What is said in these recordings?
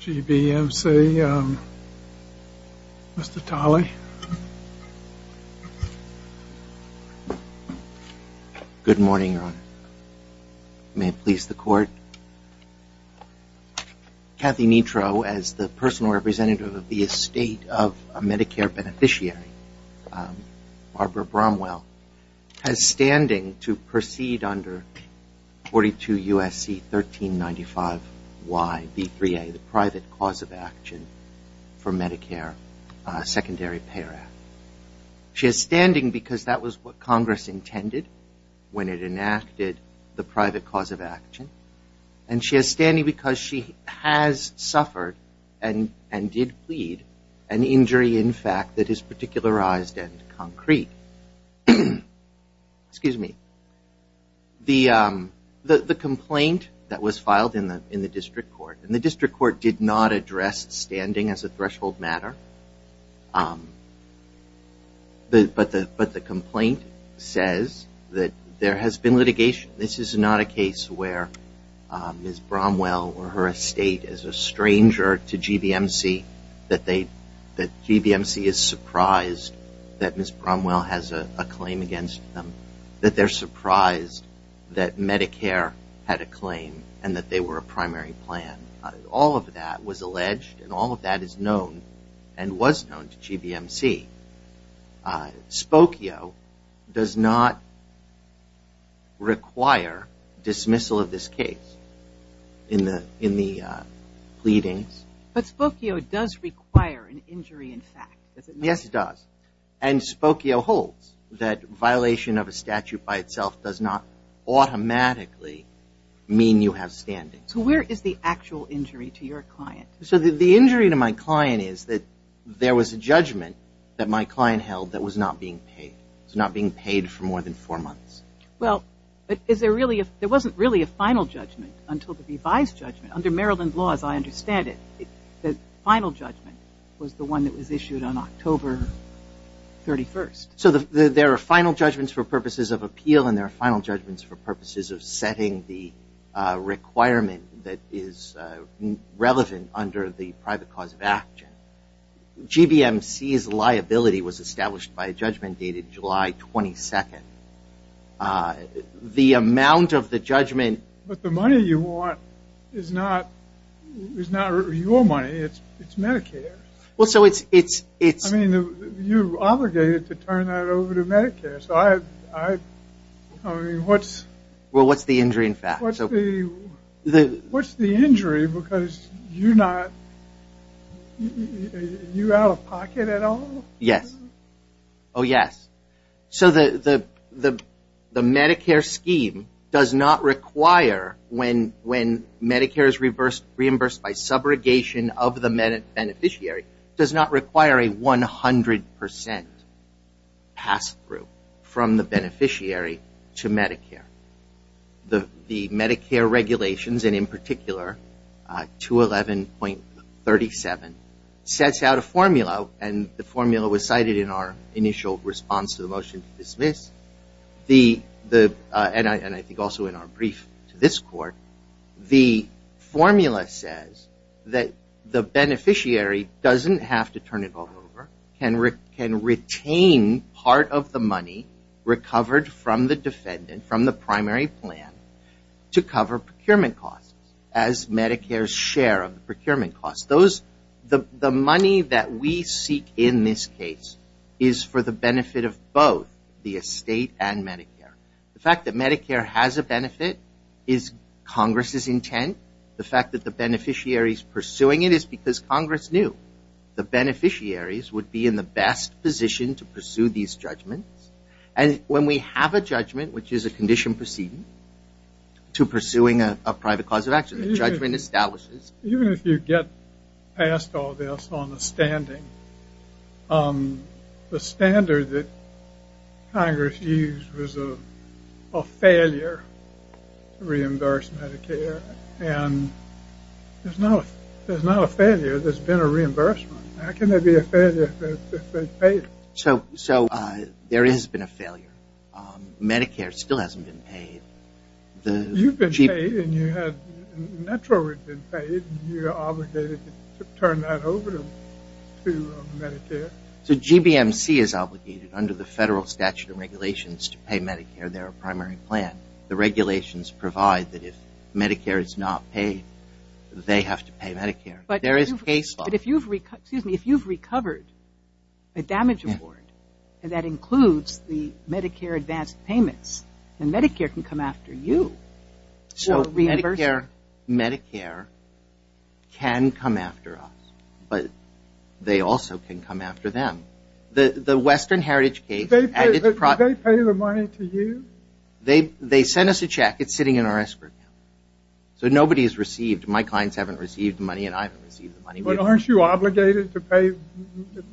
GBMC, Mr. Tolley. Good morning, Your Honor. May it please the Court? Kathy Netro, as the personal representative of the estate of a Medicare beneficiary, Barbara Bromwell, has standing to proceed under 42 U.S.C. 1395Y, B3A, the private cause of action for Medicare Secondary Pay Act. She has standing because that was what Congress intended when it enacted the private cause of action, and she has standing because she has suffered and did plead an injury in fact that is particularized and concrete. The complaint that was filed in the district court, and the district court did not address standing as a threshold matter, but the complaint says that there has been litigation. This is not a case where Ms. Bromwell or her estate is a stranger to GBMC, that GBMC is surprised that Ms. Bromwell has a claim against them, that they're surprised that Medicare had a claim and that they were a primary plan. All of that was alleged and all of that is known and was known to GBMC. Spokio does not require dismissal of this case in the pleadings. But Spokio does require an injury in fact, does it not? Yes, it does. And Spokio holds that violation of a statute by itself does not automatically mean you have standing. So where is the actual injury to your client? So the injury to my client is that there was a judgment that my client held that was not being paid. It was not being paid for more than four months. Well, but is there really, there wasn't really a final judgment until the revised judgment under Maryland laws, I understand it. The final judgment was the one that was issued on October 31st. So there are final judgments for purposes of appeal and there are final judgments for purposes of setting the requirement that is relevant under the private cause of action. GBMC's liability was established by a judgment dated July 22nd. The amount of the judgment... But the money you want is not your money, it's Medicare. Well, so it's... I mean, you're obligated to turn that over to Medicare, so I mean, what's... Well, what's the injury in fact? What's the injury because you're not, you're out of pocket at all? Yes. Oh, yes. So the Medicare scheme does not require when Medicare is reimbursed by subrogation of the beneficiary, does not require a 100% pass-through from the beneficiary to Medicare. The Medicare regulations and in particular 211.37 sets out a formula and the formula was cited in our initial response to the motion to dismiss. And I think also in our brief to this court, the formula says that the beneficiary doesn't have to turn it all over, can retain part of the money recovered from the defendant from the primary plan to cover procurement costs as Medicare's share of procurement costs. The money that we seek in this case is for the benefit of both the estate and Medicare. The fact that Medicare has a benefit is Congress's intent. The fact that the beneficiary is pursuing it is because Congress knew the beneficiaries would be in the best position to pursue these judgments. And when we have a judgment, which is a condition proceeding to pursuing a private cause of action, the judgment establishes... Even if you get past all this on the standing, the standard that Congress used was a failure to reimburse Medicare. And there's not a failure, there's been a reimbursement. How can there be a failure if it's been paid? So there has been a failure. Medicare still hasn't been paid. You've been paid and you have naturally been paid. You're obligated to turn that over to Medicare. So GBMC is obligated under the federal statute of regulations to pay Medicare their primary plan. The regulations provide that if Medicare is not paid, they have to pay Medicare. But if you've recovered a damage award, and that includes the Medicare advance payments, then Medicare can come after you. So Medicare can come after us, but they also can come after them. The Western Heritage case... Did they pay the money to you? They sent us a check. It's sitting in our escrow account. So nobody has received. My clients haven't received the money and I haven't received the money. But aren't you obligated to pay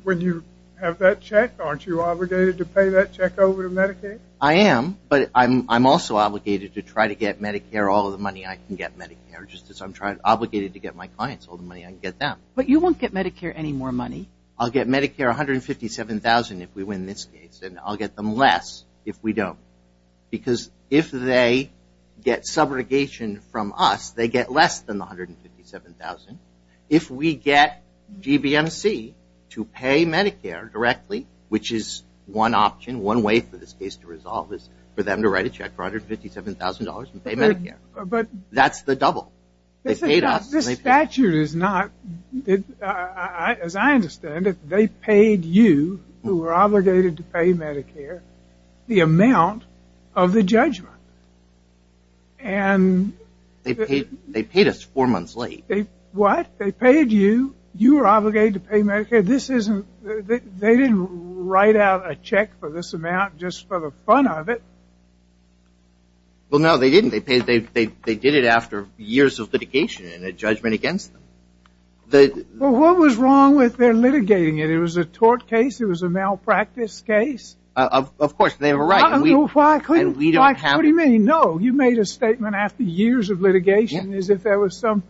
when you have that check? Aren't you obligated to pay that check over to Medicare? I am, but I'm also obligated to try to get Medicare all the money I can get Medicare, just as I'm obligated to get my clients all the money I can get them. But you won't get Medicare any more money? I'll get Medicare $157,000 if we win this case, and I'll get them less if we don't. Because if they get subrogation from us, they get less than the $157,000. If we get GBMC to pay Medicare directly, which is one option, one way for this case to resolve, is for them to write a check for $157,000 and pay Medicare. That's the double. This statute is not... As I understand it, they paid you, who were obligated to pay Medicare, the amount of the judgment. They paid us four months late. What? They paid you? You were obligated to pay Medicare? They didn't write out a check for this amount just for the fun of it? Well, no, they didn't. They did it after years of litigation and a judgment against them. Well, what was wrong with their litigating it? It was a tort case? It was a malpractice case? Of course, they were right. What do you mean, no? You made a statement after years of litigation as if there was some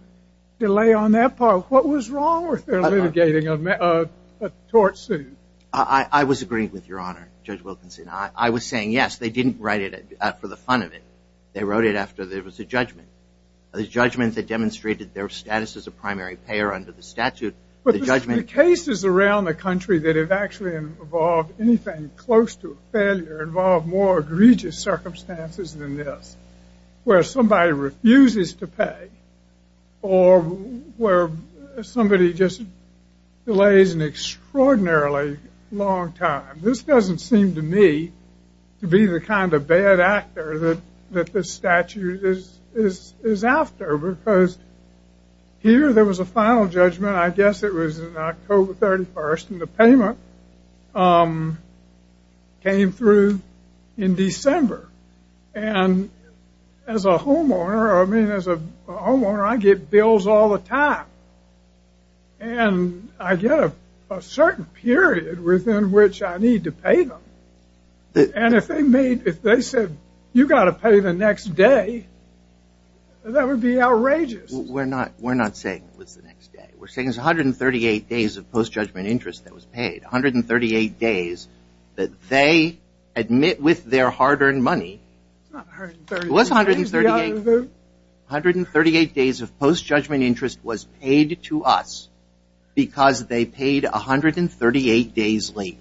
delay on that part. What was wrong with their litigating a tort suit? I was agreeing with Your Honor, Judge Wilkinson. I was saying, yes, they didn't write it for the fun of it. They wrote it after there was a judgment. A judgment that demonstrated their status as a primary payer under the statute. The cases around the country that have actually involved anything close to a failure involve more egregious circumstances than this, where somebody refuses to pay or where somebody just delays an extraordinarily long time. This doesn't seem to me to be the kind of bad actor that this statute is after because here there was a final judgment. I guess it was October 31st, and the payment came through in December. And as a homeowner, I mean, as a homeowner, I get bills all the time. And I get a certain period within which I need to pay them. And if they said, you've got to pay the next day, that would be outrageous. We're not saying it was the next day. We're saying it was 138 days of post-judgment interest that was paid, 138 days that they admit with their hard-earned money. It's not 138 days. It was 138 days. 138 days of post-judgment interest was paid to us because they paid 138 days late.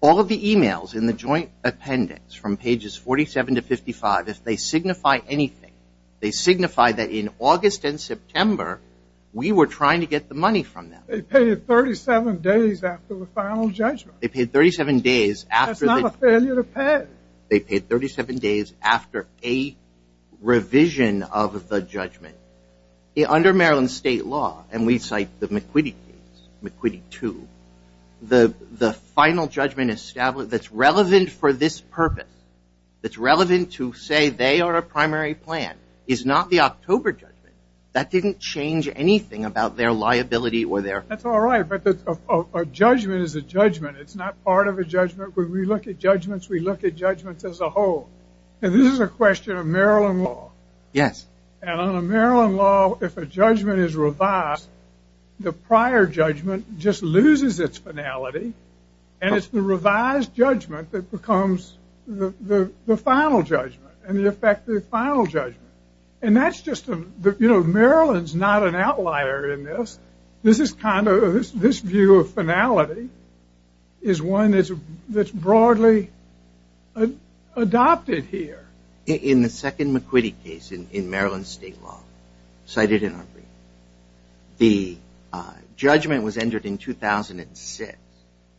All of the emails in the joint appendix from pages 47 to 55, if they signify anything, they signify that in August and September, we were trying to get the money from them. They paid it 37 days after the final judgment. That's not a failure to pay. They paid 37 days after a revision of the judgment. Under Maryland state law, and we cite the McQuitty case, McQuitty 2, the final judgment established that's relevant for this purpose, that's relevant to say they are a primary plan. It's not the October judgment. That didn't change anything about their liability. That's all right, but a judgment is a judgment. It's not part of a judgment. When we look at judgments, we look at judgments as a whole. This is a question of Maryland law. Yes. On a Maryland law, if a judgment is revised, the prior judgment just loses its finality, and it's the revised judgment that becomes the final judgment and the effective final judgment. And that's just a – you know, Maryland's not an outlier in this. This is kind of – this view of finality is one that's broadly adopted here. In the second McQuitty case in Maryland state law, cited in our briefing, the judgment was entered in 2006.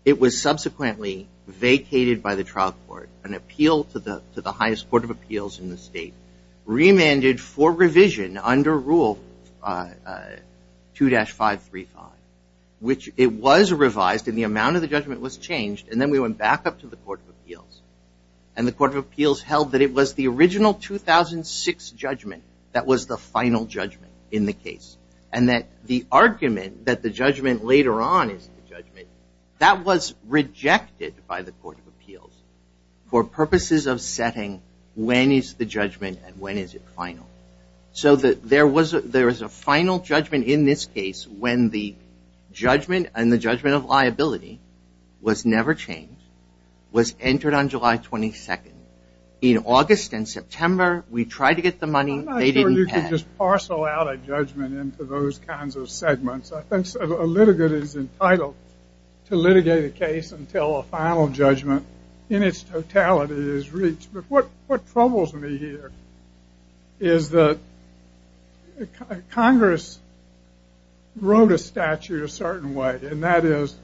It was subsequently vacated by the trial court, an appeal to the highest court of appeals in the state, remanded for revision under Rule 2-535, which it was revised, and the amount of the judgment was changed, and then we went back up to the court of appeals, and the court of appeals held that it was the original 2006 judgment that was the final judgment in the case, and that the argument that the judgment later on is the judgment, that was rejected by the court of appeals for purposes of setting when is the judgment and when is it final. So there was a final judgment in this case when the judgment and the judgment of liability was never changed, was entered on July 22nd. In August and September, we tried to get the money. They didn't pay. I'm not sure you could just parcel out a judgment into those kinds of segments. I think a litigant is entitled to litigate a case until a final judgment in its totality is reached. But what troubles me here is that Congress wrote a statute a certain way, and that is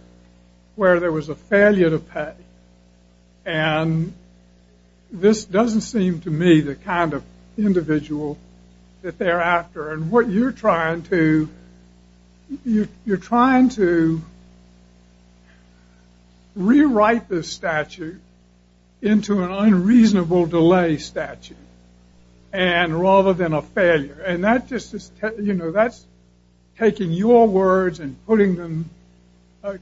where there was a failure to pay, and this doesn't seem to me the kind of individual that they're after, and what you're trying to, you're trying to rewrite this statute into an unreasonable delay statute rather than a failure, and that's taking your words and putting them,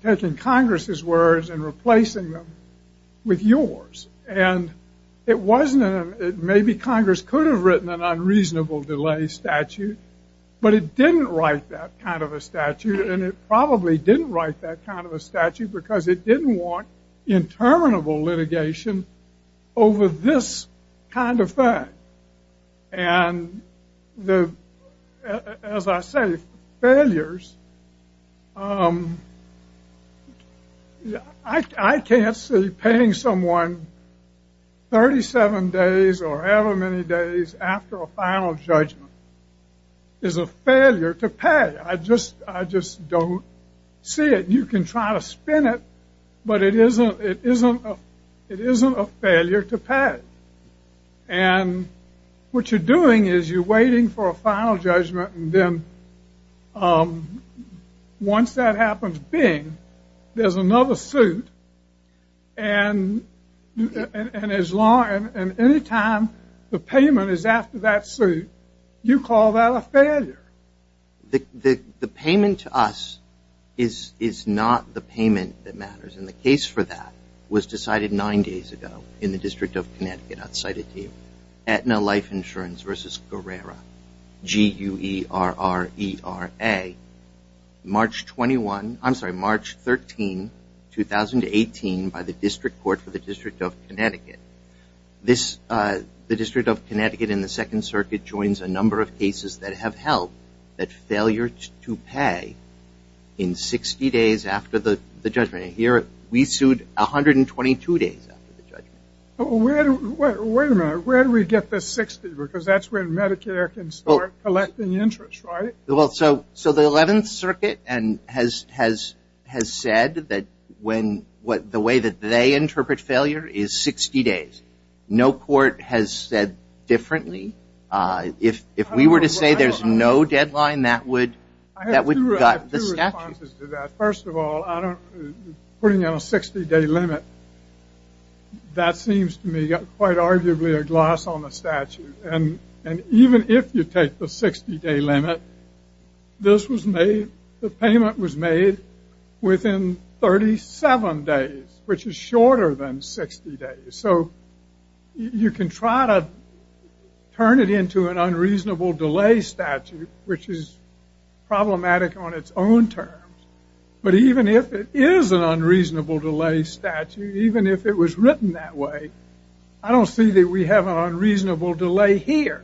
taking Congress's words and replacing them with yours. And it wasn't, maybe Congress could have written an unreasonable delay statute, but it didn't write that kind of a statute, and it probably didn't write that kind of a statute because it didn't want interminable litigation over this kind of fact. And as I say, failures, I can't see paying someone 37 days or however many days after a final judgment is a failure to pay. I just don't see it. You can try to spin it, but it isn't a failure to pay. And what you're doing is you're waiting for a final judgment, and then once that happens, bing, there's another suit, and any time the payment is after that suit, you call that a failure. The payment to us is not the payment that matters, and the case for that was decided nine days ago in the District of Connecticut, I'll cite it to you, Aetna Life Insurance v. Guerrera, G-U-E-R-R-E-R-A, March 21, I'm sorry, March 13, 2018, by the District Court for the District of Connecticut. The District of Connecticut in the Second Circuit joins a number of cases that have held that failure to pay in 60 days after the judgment. Here, we sued 122 days after the judgment. Wait a minute, where do we get the 60? Because that's when Medicare can start collecting interest, right? Well, so the Eleventh Circuit has said that the way that they interpret failure is 60 days. No court has said differently. If we were to say there's no deadline, that would gut the statute. First of all, putting in a 60-day limit, that seems to me quite arguably a gloss on the statute. And even if you take the 60-day limit, the payment was made within 37 days, which is shorter than 60 days. So you can try to turn it into an unreasonable delay statute, which is problematic on its own terms. But even if it is an unreasonable delay statute, even if it was written that way, I don't see that we have an unreasonable delay here.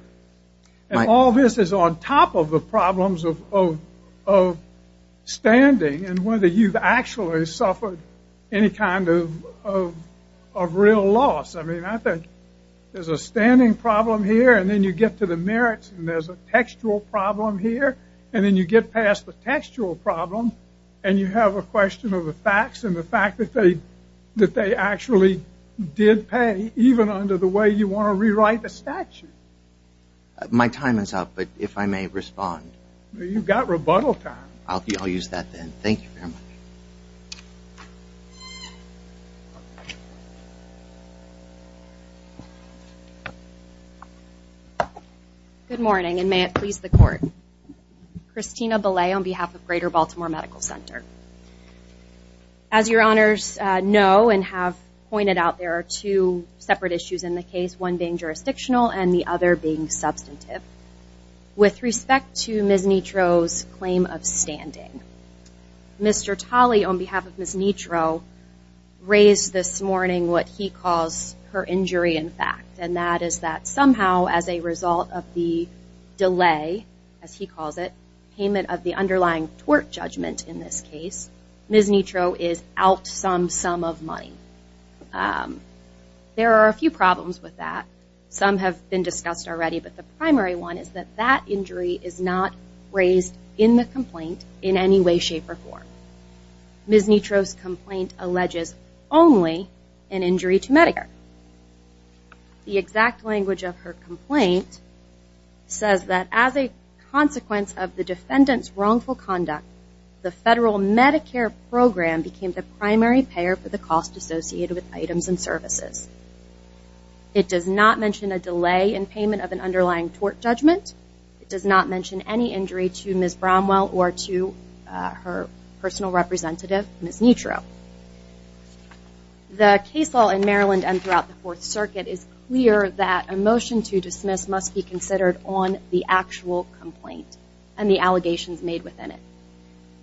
And all this is on top of the problems of standing and whether you've actually suffered any kind of real loss. I mean, I think there's a standing problem here, and then you get to the merits, and there's a textual problem here, and then you get past the textual problem, and you have a question of the facts and the fact that they actually did pay, even under the way you want to rewrite the statute. My time is up, but if I may respond. You've got rebuttal time. I'll use that then. Thank you very much. Good morning, and may it please the Court. Christina Belay on behalf of Greater Baltimore Medical Center. As your honors know and have pointed out, there are two separate issues in the case, one being jurisdictional and the other being substantive. With respect to Ms. Nitro's claim of standing, Mr. Talley on behalf of Ms. Nitro raised this morning what he calls her injury in fact, and that is that somehow as a result of the delay, as he calls it, payment of the underlying tort judgment in this case, Ms. Nitro is out some sum of money. There are a few problems with that. Some have been discussed already, but the primary one is that that injury is not raised in the complaint in any way, shape, or form. Ms. Nitro's complaint alleges only an injury to Medicare. The exact language of her complaint says that as a consequence of the defendant's wrongful conduct, the federal Medicare program became the primary payer for the cost associated with items and services. It does not mention a delay in payment of an underlying tort judgment. It does not mention any injury to Ms. Bromwell or to her personal representative, Ms. Nitro. The case law in Maryland and throughout the Fourth Circuit is clear that a motion to dismiss must be considered on the actual complaint and the allegations made within it.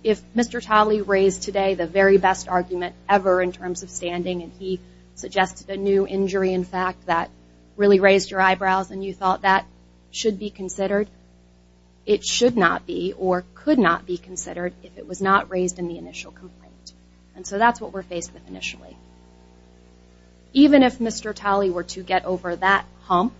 If Mr. Talley raised today the very best argument ever in terms of standing and he suggested a new injury, in fact, that really raised your eyebrows and you thought that should be considered, it should not be or could not be considered if it was not raised in the initial complaint. And so that's what we're faced with initially. Even if Mr. Talley were to get over that hump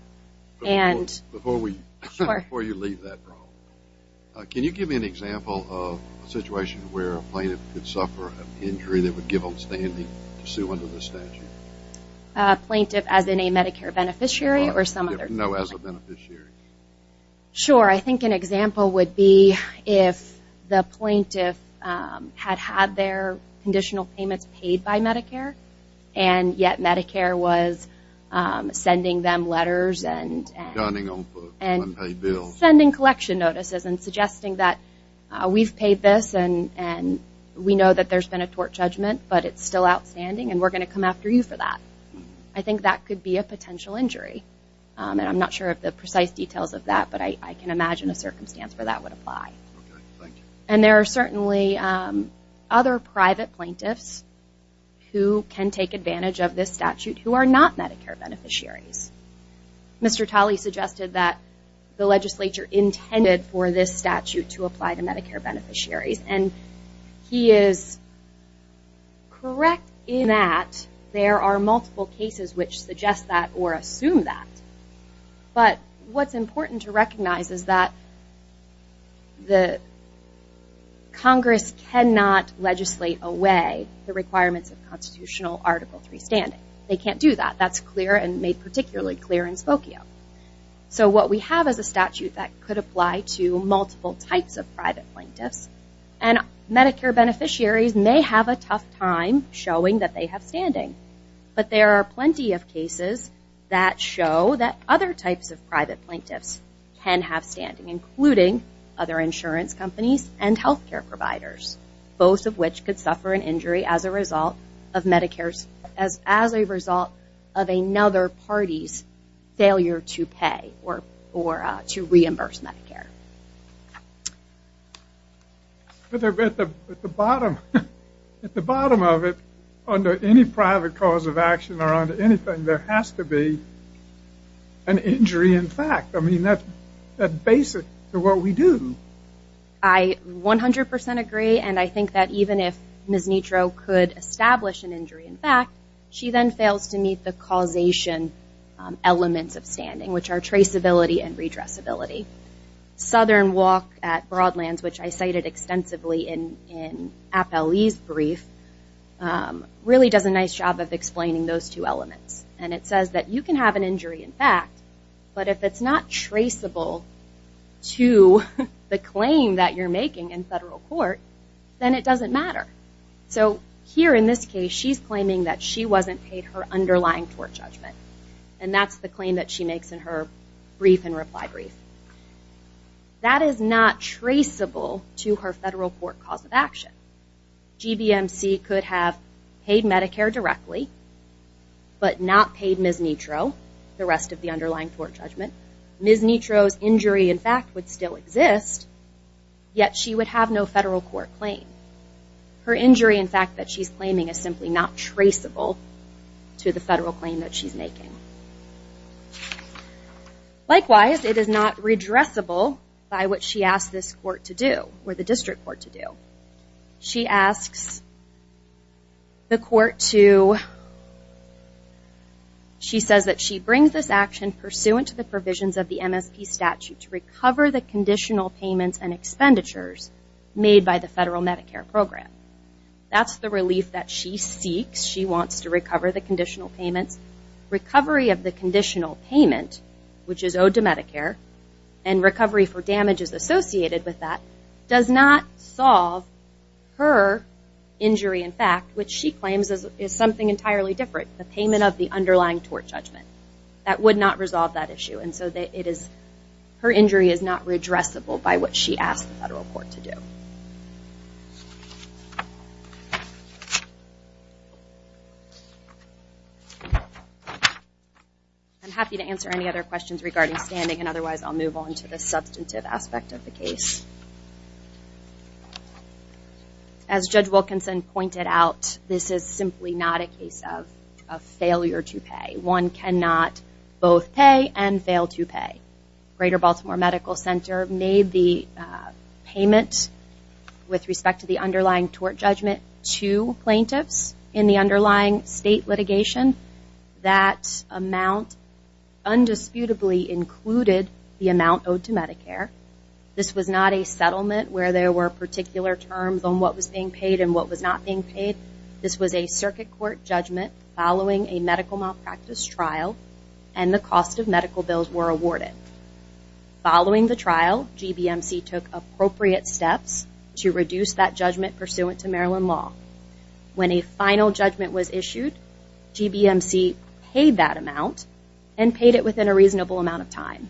and – Before we – Sure. Before you leave that room, can you give me an example of a situation where a plaintiff could suffer an injury under the statute? A plaintiff as in a Medicare beneficiary or some other – No, as a beneficiary. Sure. I think an example would be if the plaintiff had had their conditional payments paid by Medicare and yet Medicare was sending them letters and – Donning on unpaid bills. And sending collection notices and suggesting that we've paid this and we know that there's been a tort judgment but it's still outstanding and we're going to come after you for that. I think that could be a potential injury. And I'm not sure of the precise details of that but I can imagine a circumstance where that would apply. Okay, thank you. And there are certainly other private plaintiffs who can take advantage of this statute who are not Medicare beneficiaries. Mr. Talley suggested that the legislature intended for this statute to apply to Medicare beneficiaries. And he is correct in that there are multiple cases which suggest that or assume that. But what's important to recognize is that Congress cannot legislate away the requirements of constitutional Article III standing. They can't do that. That's clear and made particularly clear in Spokio. So what we have is a statute that could apply to multiple types of private plaintiffs. And Medicare beneficiaries may have a tough time showing that they have standing. But there are plenty of cases that show that other types of private plaintiffs can have standing including other insurance companies and health care providers. Both of which could suffer an injury as a result of Medicare's as a result of standing. At the bottom of it, under any private cause of action or under anything, there has to be an injury in fact. I mean, that's basic to what we do. I 100% agree. And I think that even if Ms. Nitro could establish an injury in fact, she then fails to meet the causation elements of standing, which are traceability and redressability. Southern Walk at Broadlands, which I cited extensively in Appellee's brief, really does a nice job of explaining those two elements. And it says that you can have an injury in fact, but if it's not traceable to the claim that you're making in federal court, then it doesn't matter. So here in this case, she's claiming that she wasn't paid her underlying tort judgment. And that's the claim that she makes in her brief and reply brief. That is not traceable to her federal court cause of action. GBMC could have paid Medicare directly, but not paid Ms. Nitro, the rest of the underlying tort judgment. Ms. Nitro's injury in fact would still exist, yet she would have no federal court claim. Her injury in fact that she's claiming is simply not traceable to the federal claim that she's making. Likewise, it is not redressable by what she asked this court to do, or the district court to do. She asks the court to, she says that she brings this action pursuant to the provisions of the MSP statute to recover the conditional payments and expenditures made by the federal Medicare program. That's the relief that she seeks. She wants to recover the conditional payments. Recovery of the conditional payment, which is owed to Medicare, and recovery for damages associated with that, does not solve her injury in fact, which she claims is something entirely different, the payment of the underlying tort judgment. That would not resolve that issue. Her injury is not redressable by what she asked the federal court to do. I'm happy to answer any other questions regarding standing, and otherwise I'll move on to the substantive aspect of the case. As Judge Wilkinson pointed out, this is simply not a case of failure to pay. One cannot both pay and fail to pay. Greater Baltimore Medical Center made the payment with respect to the underlying tort judgment to plaintiffs in the underlying state litigation. That amount undisputably included the amount owed to Medicare. This was not a settlement where there were particular terms on what was being paid and what was not being paid. This was a circuit court judgment following a medical malpractice trial, and the cost of medical bills were awarded. Following the trial, GBMC took appropriate steps to reduce that judgment pursuant to Maryland law. When a final judgment was issued, GBMC paid that amount and paid it within a reasonable amount of time.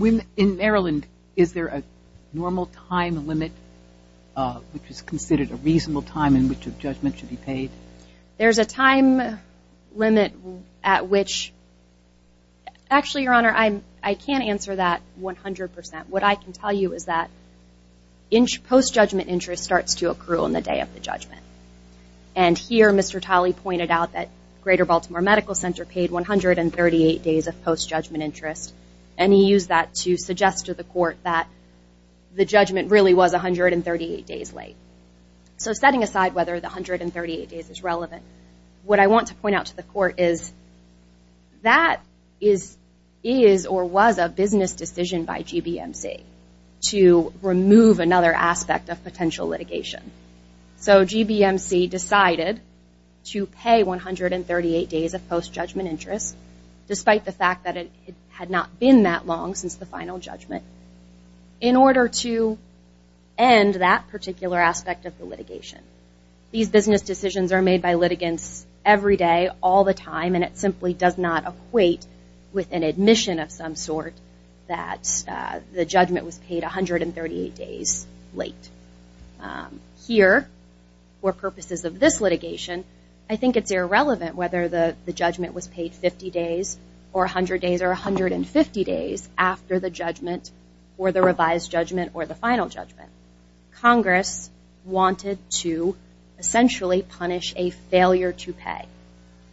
In Maryland, is there a normal time limit, There's a time limit at which, actually, Your Honor, I can't answer that 100%. What I can tell you is that post-judgment interest starts to accrue on the day of the judgment. And here, Mr. Talley pointed out that Greater Baltimore Medical Center paid 138 days of post-judgment interest, and he used that to suggest to the court that the judgment really was 138 days late. So setting aside whether the 138 days is relevant, what I want to point out to the court is that is or was a business decision by GBMC to remove another aspect of potential litigation. So GBMC decided to pay 138 days of post-judgment interest, despite the fact that it had not been that long since the final judgment, in order to end that particular aspect of the litigation. These business decisions are made by litigants every day, all the time, and it simply does not equate with an admission of some sort that the judgment was paid 138 days late. Here, for purposes of this litigation, I think it's irrelevant whether the judgment was paid 50 days or 100 days or the revised judgment or the final judgment. Congress wanted to essentially punish a failure to pay,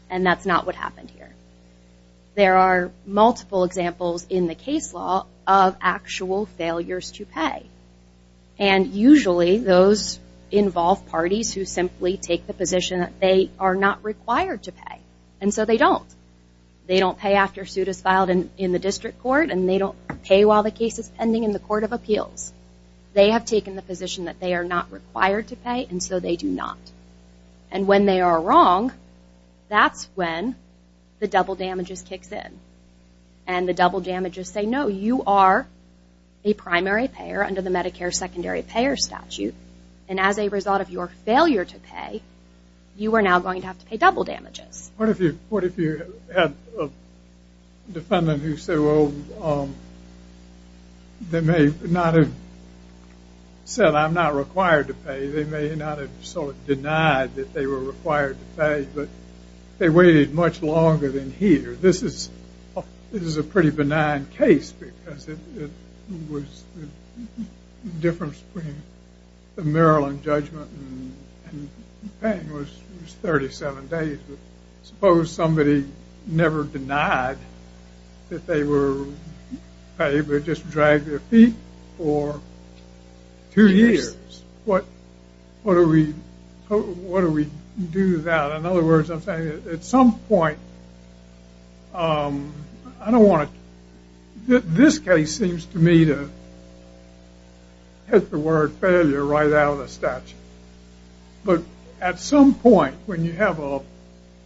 and that's not what happened here. There are multiple examples in the case law of actual failures to pay, and usually those involve parties who simply take the position that they are not required to pay, and so they don't. They don't pay after a suit is filed in the district court, and they don't pay while the case is pending in the court of appeals. They have taken the position that they are not required to pay, and so they do not. And when they are wrong, that's when the double damages kicks in, and the double damages say, no, you are a primary payer under the Medicare secondary payer statute, and as a result of your failure to pay, you are now going to have to pay double damages. What if you had a defendant who said, well, they may not have said, I'm not required to pay. They may not have sort of denied that they were required to pay, but they waited much longer than here. This is a pretty benign case, because it was the difference between the Maryland judgment and paying, which was 37 days. Suppose somebody never denied that they were paid, but just dragged their feet for two years. What do we do about it? In other words, I'm saying at some point, I don't want to, this case seems to me to hit the word failure right out of the statute. But at some point, when you have a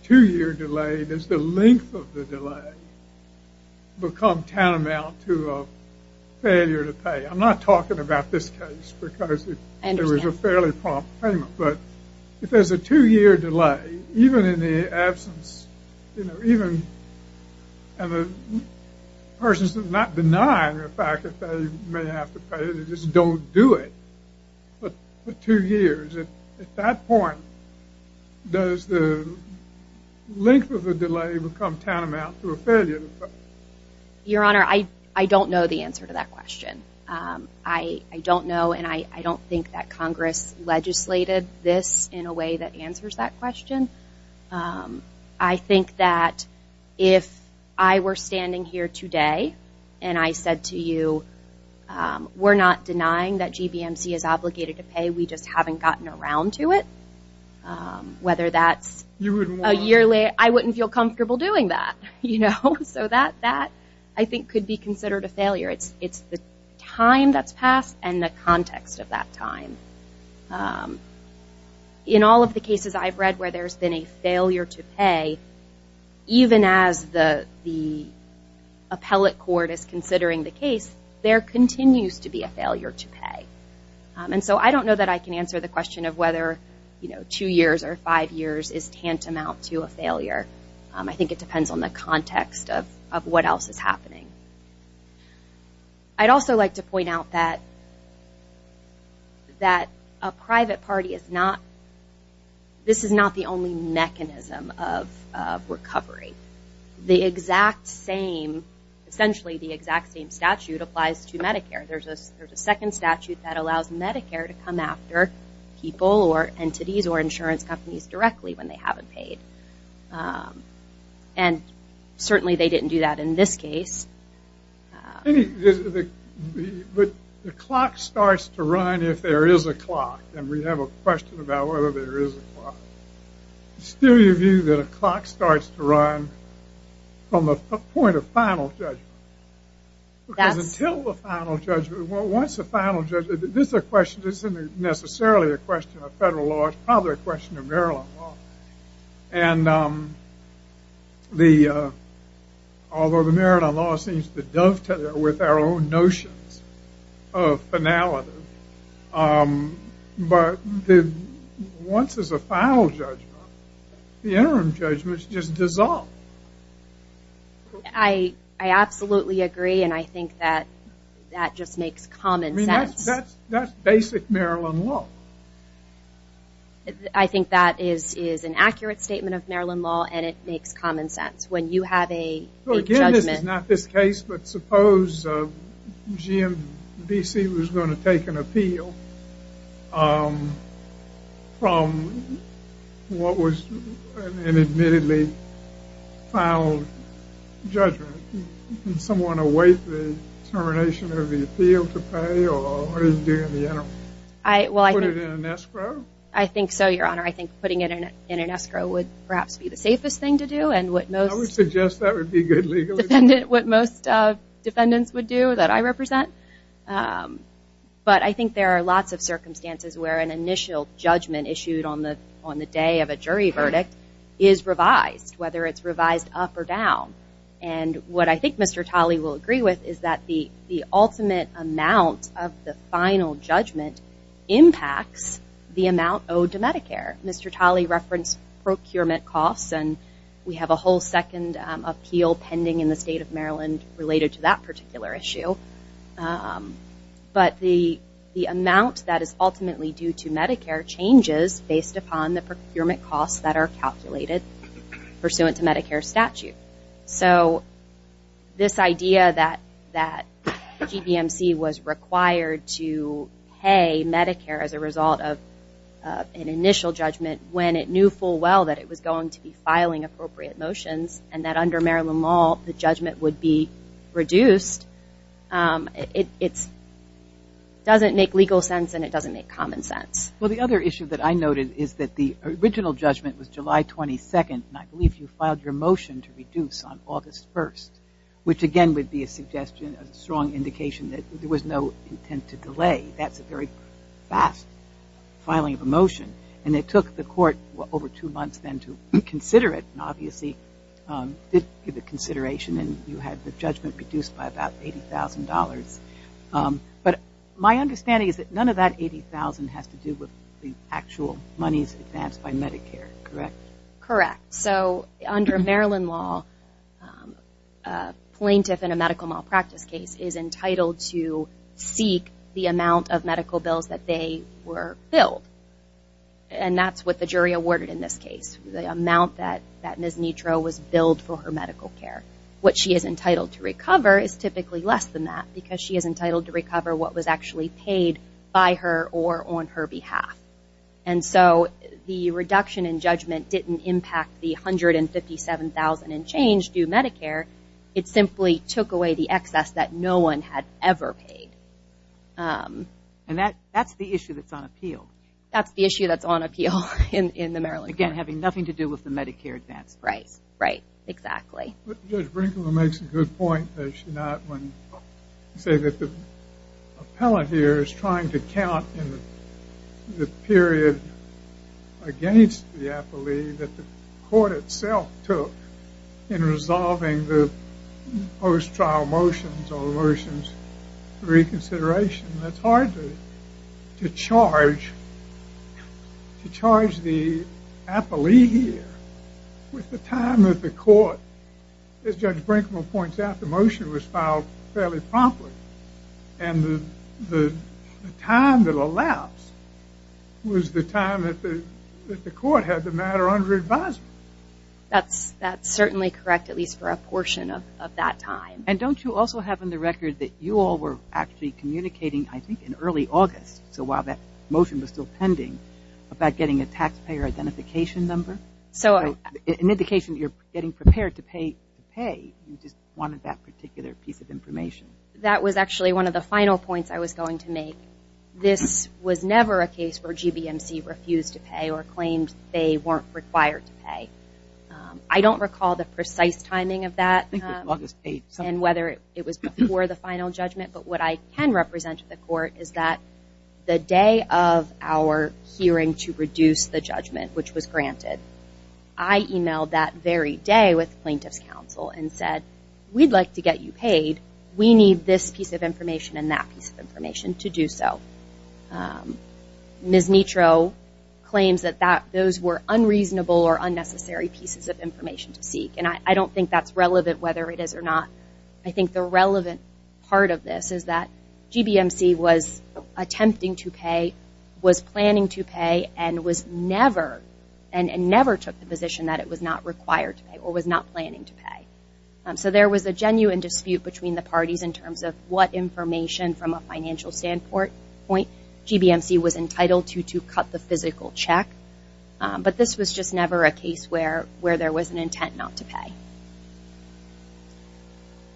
two-year delay, does the length of the delay become tantamount to a failure to pay? I'm not talking about this case, because it was a fairly prompt payment. But if there's a two-year delay, even in the absence, even persons who have not denied the fact that they may have to pay, they just don't do it. But two years, at that point, does the length of the delay become tantamount to a failure to pay? Your Honor, I don't know the answer to that question. I don't know, and I don't think that Congress legislated this in a way that answers that question. I think that if I were standing here today, and I said to you, we're not denying that GBMC is obligated to pay, we just haven't gotten around to it. Whether that's a year later, I wouldn't feel comfortable doing that. So that, I think, could be considered a failure. It's the time that's passed and the context of that time. In all of the cases I've read where there's been a failure to pay, even as the appellate court is considering the case, there continues to be a failure to pay. And so I don't know that I can answer the question of whether two years or five years is tantamount to a failure. I think it depends on the context of what else is happening. I'd also like to point out that a private party is not, this is not the only mechanism of recovery. The exact same, essentially the exact same statute applies to Medicare. There's a second statute that allows Medicare to come after people or entities or insurance companies directly when they haven't paid. And certainly they didn't do that in this case. But the clock starts to run if there is a clock, it's still your view that a clock starts to run from the point of final judgment. Because until the final judgment, once the final judgment, this isn't necessarily a question of federal law, it's probably a question of Maryland law. And although the Maryland law seems to dovetail with our own notions of finality, but once there's a final judgment, the interim judgment is just dissolved. I absolutely agree and I think that that just makes common sense. That's basic Maryland law. I think that is an accurate statement of Maryland law This is not this case, but suppose GMBC was going to take an appeal from what was an admittedly final judgment. Can someone await the termination of the appeal to pay or is it doing the interim? Put it in an escrow? I think so, Your Honor. I think putting it in an escrow would perhaps be the safest thing to do. I would suggest that would be good legally. What most defendants would do that I represent. But I think there are lots of circumstances where an initial judgment issued on the day of a jury verdict is revised, whether it's revised up or down. And what I think Mr. Talley will agree with is that the ultimate amount of the final judgment impacts the amount owed to Medicare. Mr. Talley referenced procurement costs and we have a whole second appeal pending in the state of Maryland related to that particular issue. But the amount that is ultimately due to Medicare changes based upon the procurement costs that are calculated pursuant to Medicare statute. So this idea that GBMC was required to pay Medicare as a result of an initial judgment when it knew full well that it was going to be filing appropriate motions and that under Maryland law the judgment would be reduced, it doesn't make legal sense and it doesn't make common sense. Well, the other issue that I noted is that the original judgment was July 22nd and I believe you filed your motion to reduce on August 1st, which again would be a strong indication that there was no intent to delay. That's a very fast filing of a motion. And it took the court over two months then to consider it and obviously did give a consideration and you had the judgment reduced by about $80,000. But my understanding is that none of that $80,000 has to do with the actual monies advanced by Medicare, correct? Correct. So under Maryland law a plaintiff in a medical malpractice case is entitled to seek the amount of medical bills that they were billed. And that's what the jury awarded in this case, the amount that Ms. Nitro was billed for her medical care. What she is entitled to recover is typically less than that because she is entitled to recover what was actually paid by her or on her behalf. And so the reduction in judgment didn't impact the $157,000 and change due Medicare. It simply took away the excess that no one had ever paid. And that's the issue that's on appeal. That's the issue that's on appeal in the Maryland court. Again, having nothing to do with the Medicare advance. Right, right, exactly. Judge Brinkman makes a good point, does she not, when you say that the appellate here is trying to count the period against the appellee that the court itself took in resolving the post-trial motions or motions reconsideration, that's hard to charge the appellee here with the time that the court, as Judge Brinkman points out, the motion was filed fairly promptly. And the time that elapsed was the time that the court had the matter under advisement. That's certainly correct, at least for a portion of that time. And don't you also have on the record that you all were actually communicating, I think, in early August, so while that motion was still pending, about getting a taxpayer identification number? So an indication that you're getting prepared to pay, you just wanted that particular piece of information. That was actually one of the final points I was going to make. This was never a case where GBMC refused to pay or claimed they weren't required to pay. I don't recall the precise timing of that and whether it was before the final judgment, but what I can represent to the court is that the day of our hearing to reduce the judgment, which was granted, I emailed that very day with plaintiff's counsel and said, we'd like to get you paid. We need this piece of information and that piece of information to do so. Ms. Nitro claims that those were unreasonable or unnecessary pieces of information to seek, and I don't think that's relevant whether it is or not. I think the relevant part of this is that GBMC was attempting to pay, was planning to pay, and never took the position that it was not required to pay or was not planning to pay. So there was a genuine dispute between the parties in terms of what information from a financial standpoint GBMC was entitled to to cut the physical check, but this was just never a case where there was an intent not to pay.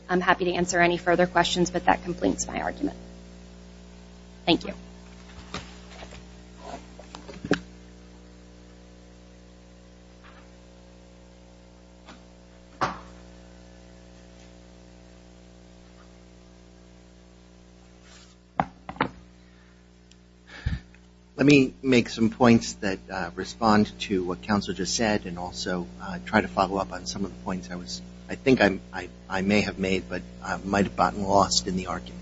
I'm happy to answer any further questions, but that completes my argument. Thank you. Let me make some points that respond to what counsel just said and also try to follow up on some of the points I think I may have made, but I might have gotten lost in the argument.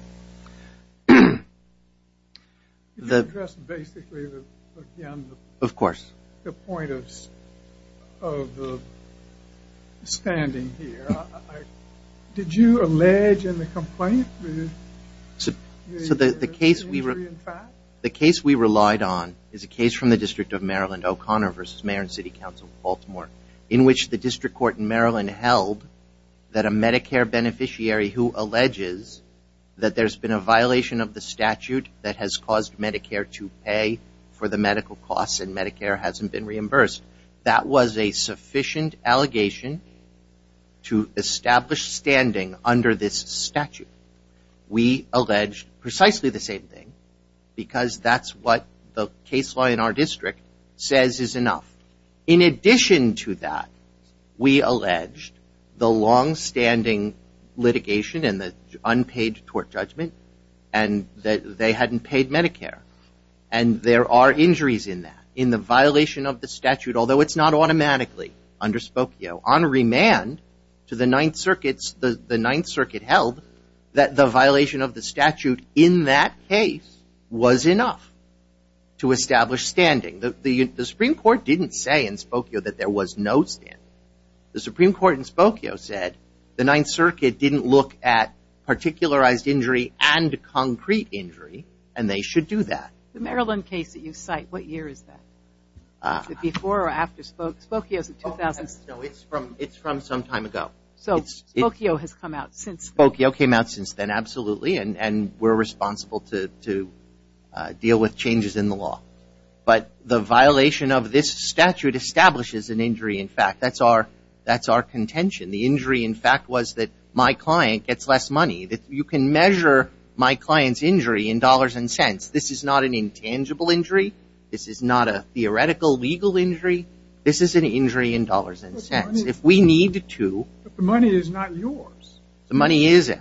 You addressed basically, again, the point of standing here. Did you allege in the complaint the injury in fact? The case we relied on is a case from the District of Maryland, O'Connor v. Mayor and City Council of Baltimore, in which the District Court in Maryland held that a Medicare beneficiary who alleges that there's been a violation of the statute that has caused Medicare to pay for the medical costs and Medicare hasn't been reimbursed. That was a sufficient allegation to establish standing under this statute. We allege precisely the same thing because that's what the case law in our district says is enough. In addition to that, we allege the longstanding litigation and the unpaid tort judgment and that they hadn't paid Medicare. And there are injuries in that, in the violation of the statute, although it's not automatically underspoken on remand to the Ninth Circuit. The Ninth Circuit held that the violation of the statute in that case was enough to establish standing. The Supreme Court didn't say in Spokio that there was no standing. The Supreme Court in Spokio said the Ninth Circuit didn't look at particularized injury and concrete injury and they should do that. The Maryland case that you cite, what year is that? Is it before or after Spokio? Spokio is in 2006. No, it's from some time ago. So Spokio has come out since then. Spokio came out since then, absolutely, and we're responsible to deal with changes in the law. But the violation of this statute establishes an injury in fact. That's our contention. The injury in fact was that my client gets less money. You can measure my client's injury in dollars and cents. This is not an intangible injury. This is not a theoretical legal injury. This is an injury in dollars and cents. If we need to. But the money is not yours. The money is ours.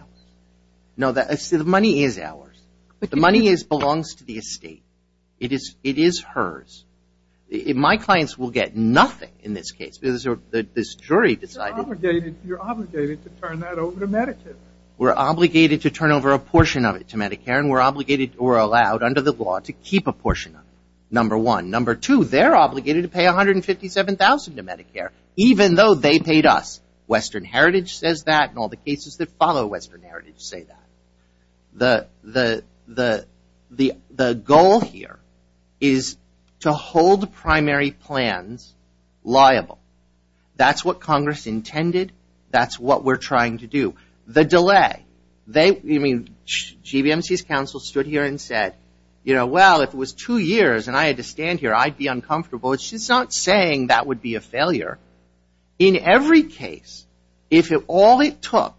No, the money is ours. The money belongs to the estate. It is hers. My clients will get nothing in this case. This jury decided. You're obligated to turn that over to Medicare. We're obligated to turn over a portion of it to Medicare and we're allowed under the law to keep a portion of it. Number one. Number two, they're obligated to pay $157,000 to Medicare even though they paid us. Western Heritage says that and all the cases that follow Western Heritage say that. The goal here is to hold the primary plans liable. That's what Congress intended. That's what we're trying to do. The delay. GBMC's counsel stood here and said, well, if it was two years and I had to stand here, I'd be uncomfortable. It's just not saying that would be a failure. In every case, if all it took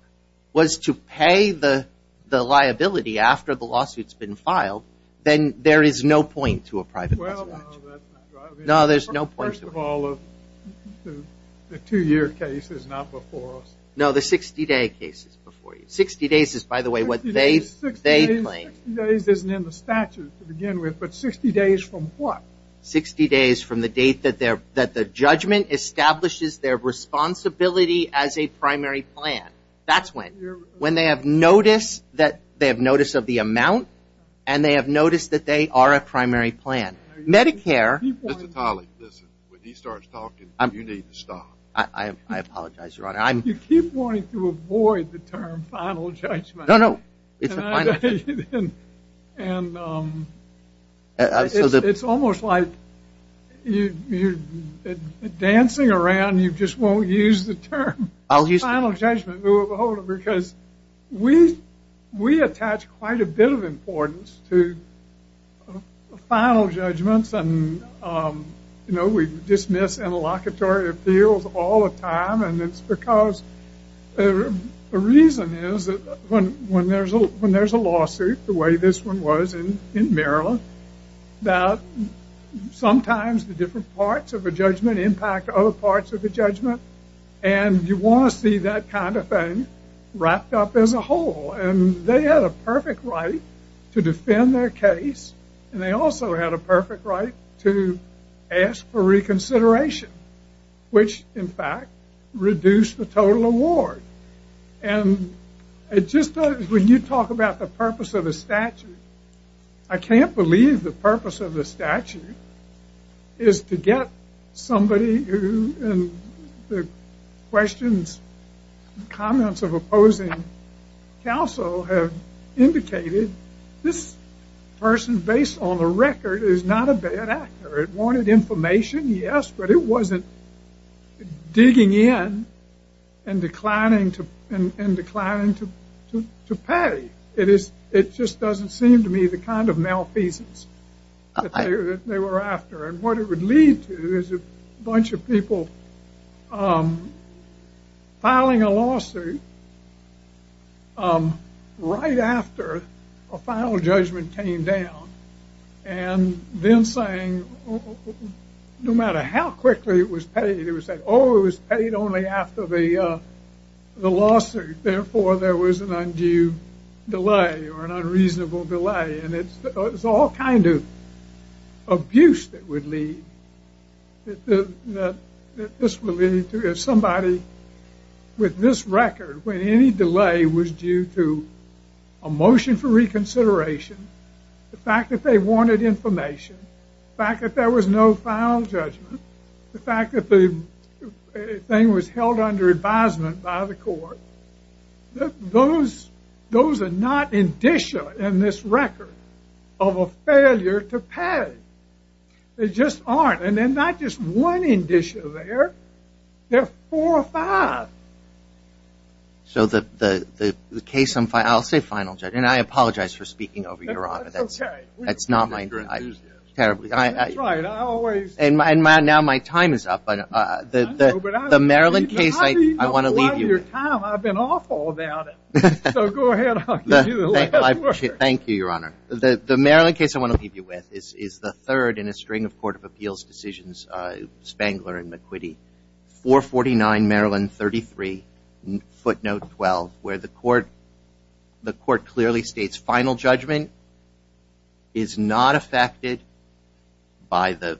was to pay the liability after the lawsuit's been filed, then there is no point to a private preservation. Well, no, that's not driving it. No, there's no point. First of all, the two-year case is not before us. No, the 60-day case is before you. 60 days is, by the way, what they claim. 60 days isn't in the statute to begin with, but 60 days from what? 60 days from the date that the judgment establishes their responsibility as a primary plan. That's when. When they have notice of the amount and they have notice that they are a primary plan. Medicare. Mr. Tolley, listen. When he starts talking, you need to stop. I apologize, Your Honor. You keep wanting to avoid the term final judgment. No, no. And it's almost like you're dancing around. You just won't use the term final judgment. Because we attach quite a bit of importance to final judgments. And we dismiss interlocutory appeals all the time. And it's because the reason is that when there's a lawsuit the way this one was in Maryland, that sometimes the different parts of a judgment impact other parts of the judgment. And you want to see that kind of thing wrapped up as a whole. And they had a perfect right to defend their case. And they also had a perfect right to ask for reconsideration. Which, in fact, reduced the total award. And it just does when you talk about the purpose of a statute. I can't believe the purpose of the statute is to get somebody who the questions, comments of opposing counsel have indicated this person based on the record is not a bad actor. It wanted information, yes. But it wasn't digging in and declining to pay. It just doesn't seem to me the kind of malfeasance that they were after. And what it would lead to is a bunch of people filing a lawsuit right after a final judgment came down and then saying no matter how quickly it was paid, it was paid only after the lawsuit. Therefore, there was an undue delay or an unreasonable delay. And it's all kind of abuse that would lead, that this would lead to if somebody with this record, when any delay was due to a motion for reconsideration, the fact that they wanted information, the fact that there was no final judgment, the fact that the thing was held under advisement by the court. Those are not indicia in this record of a failure to pay. They just aren't. And they're not just one indicia there. They're four or five. So the case on, I'll say final judgment. And I apologize for speaking over your honor. That's okay. That's not my, terribly. That's right, I always. And now my time is up. The Maryland case, I want to leave you. I've been awful about it. So go ahead, I'll give you the last word. Thank you, your honor. The Maryland case I want to leave you with is the third in a string of court of appeals decisions, Spangler and McQuitty. 449 Maryland 33, footnote 12, where the court clearly states final judgment is not affected by the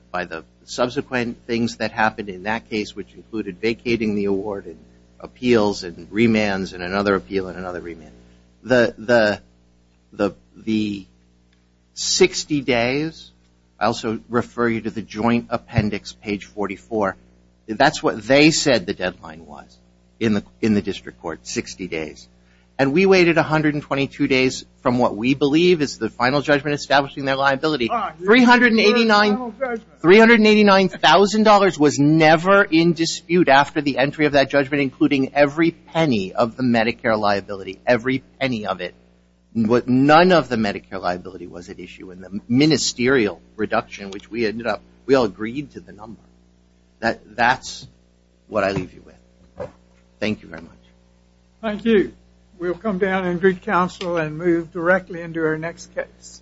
subsequent things that happened in that case, which included vacating the award and appeals and remands and another appeal and another remand. The 60 days, I also refer you to the joint appendix, page 44. That's what they said the deadline was in the district court, 60 days. And we waited 122 days from what we believe is the final judgment establishing their liability. $389,000 was never in dispute after the entry of that judgment, including every penny of the Medicare liability, every penny of it. None of the Medicare liability was at issue in the ministerial reduction, which we ended up, we all agreed to the number. That's what I leave you with. Thank you very much. Thank you. We'll come down and greet counsel and move directly into our next case.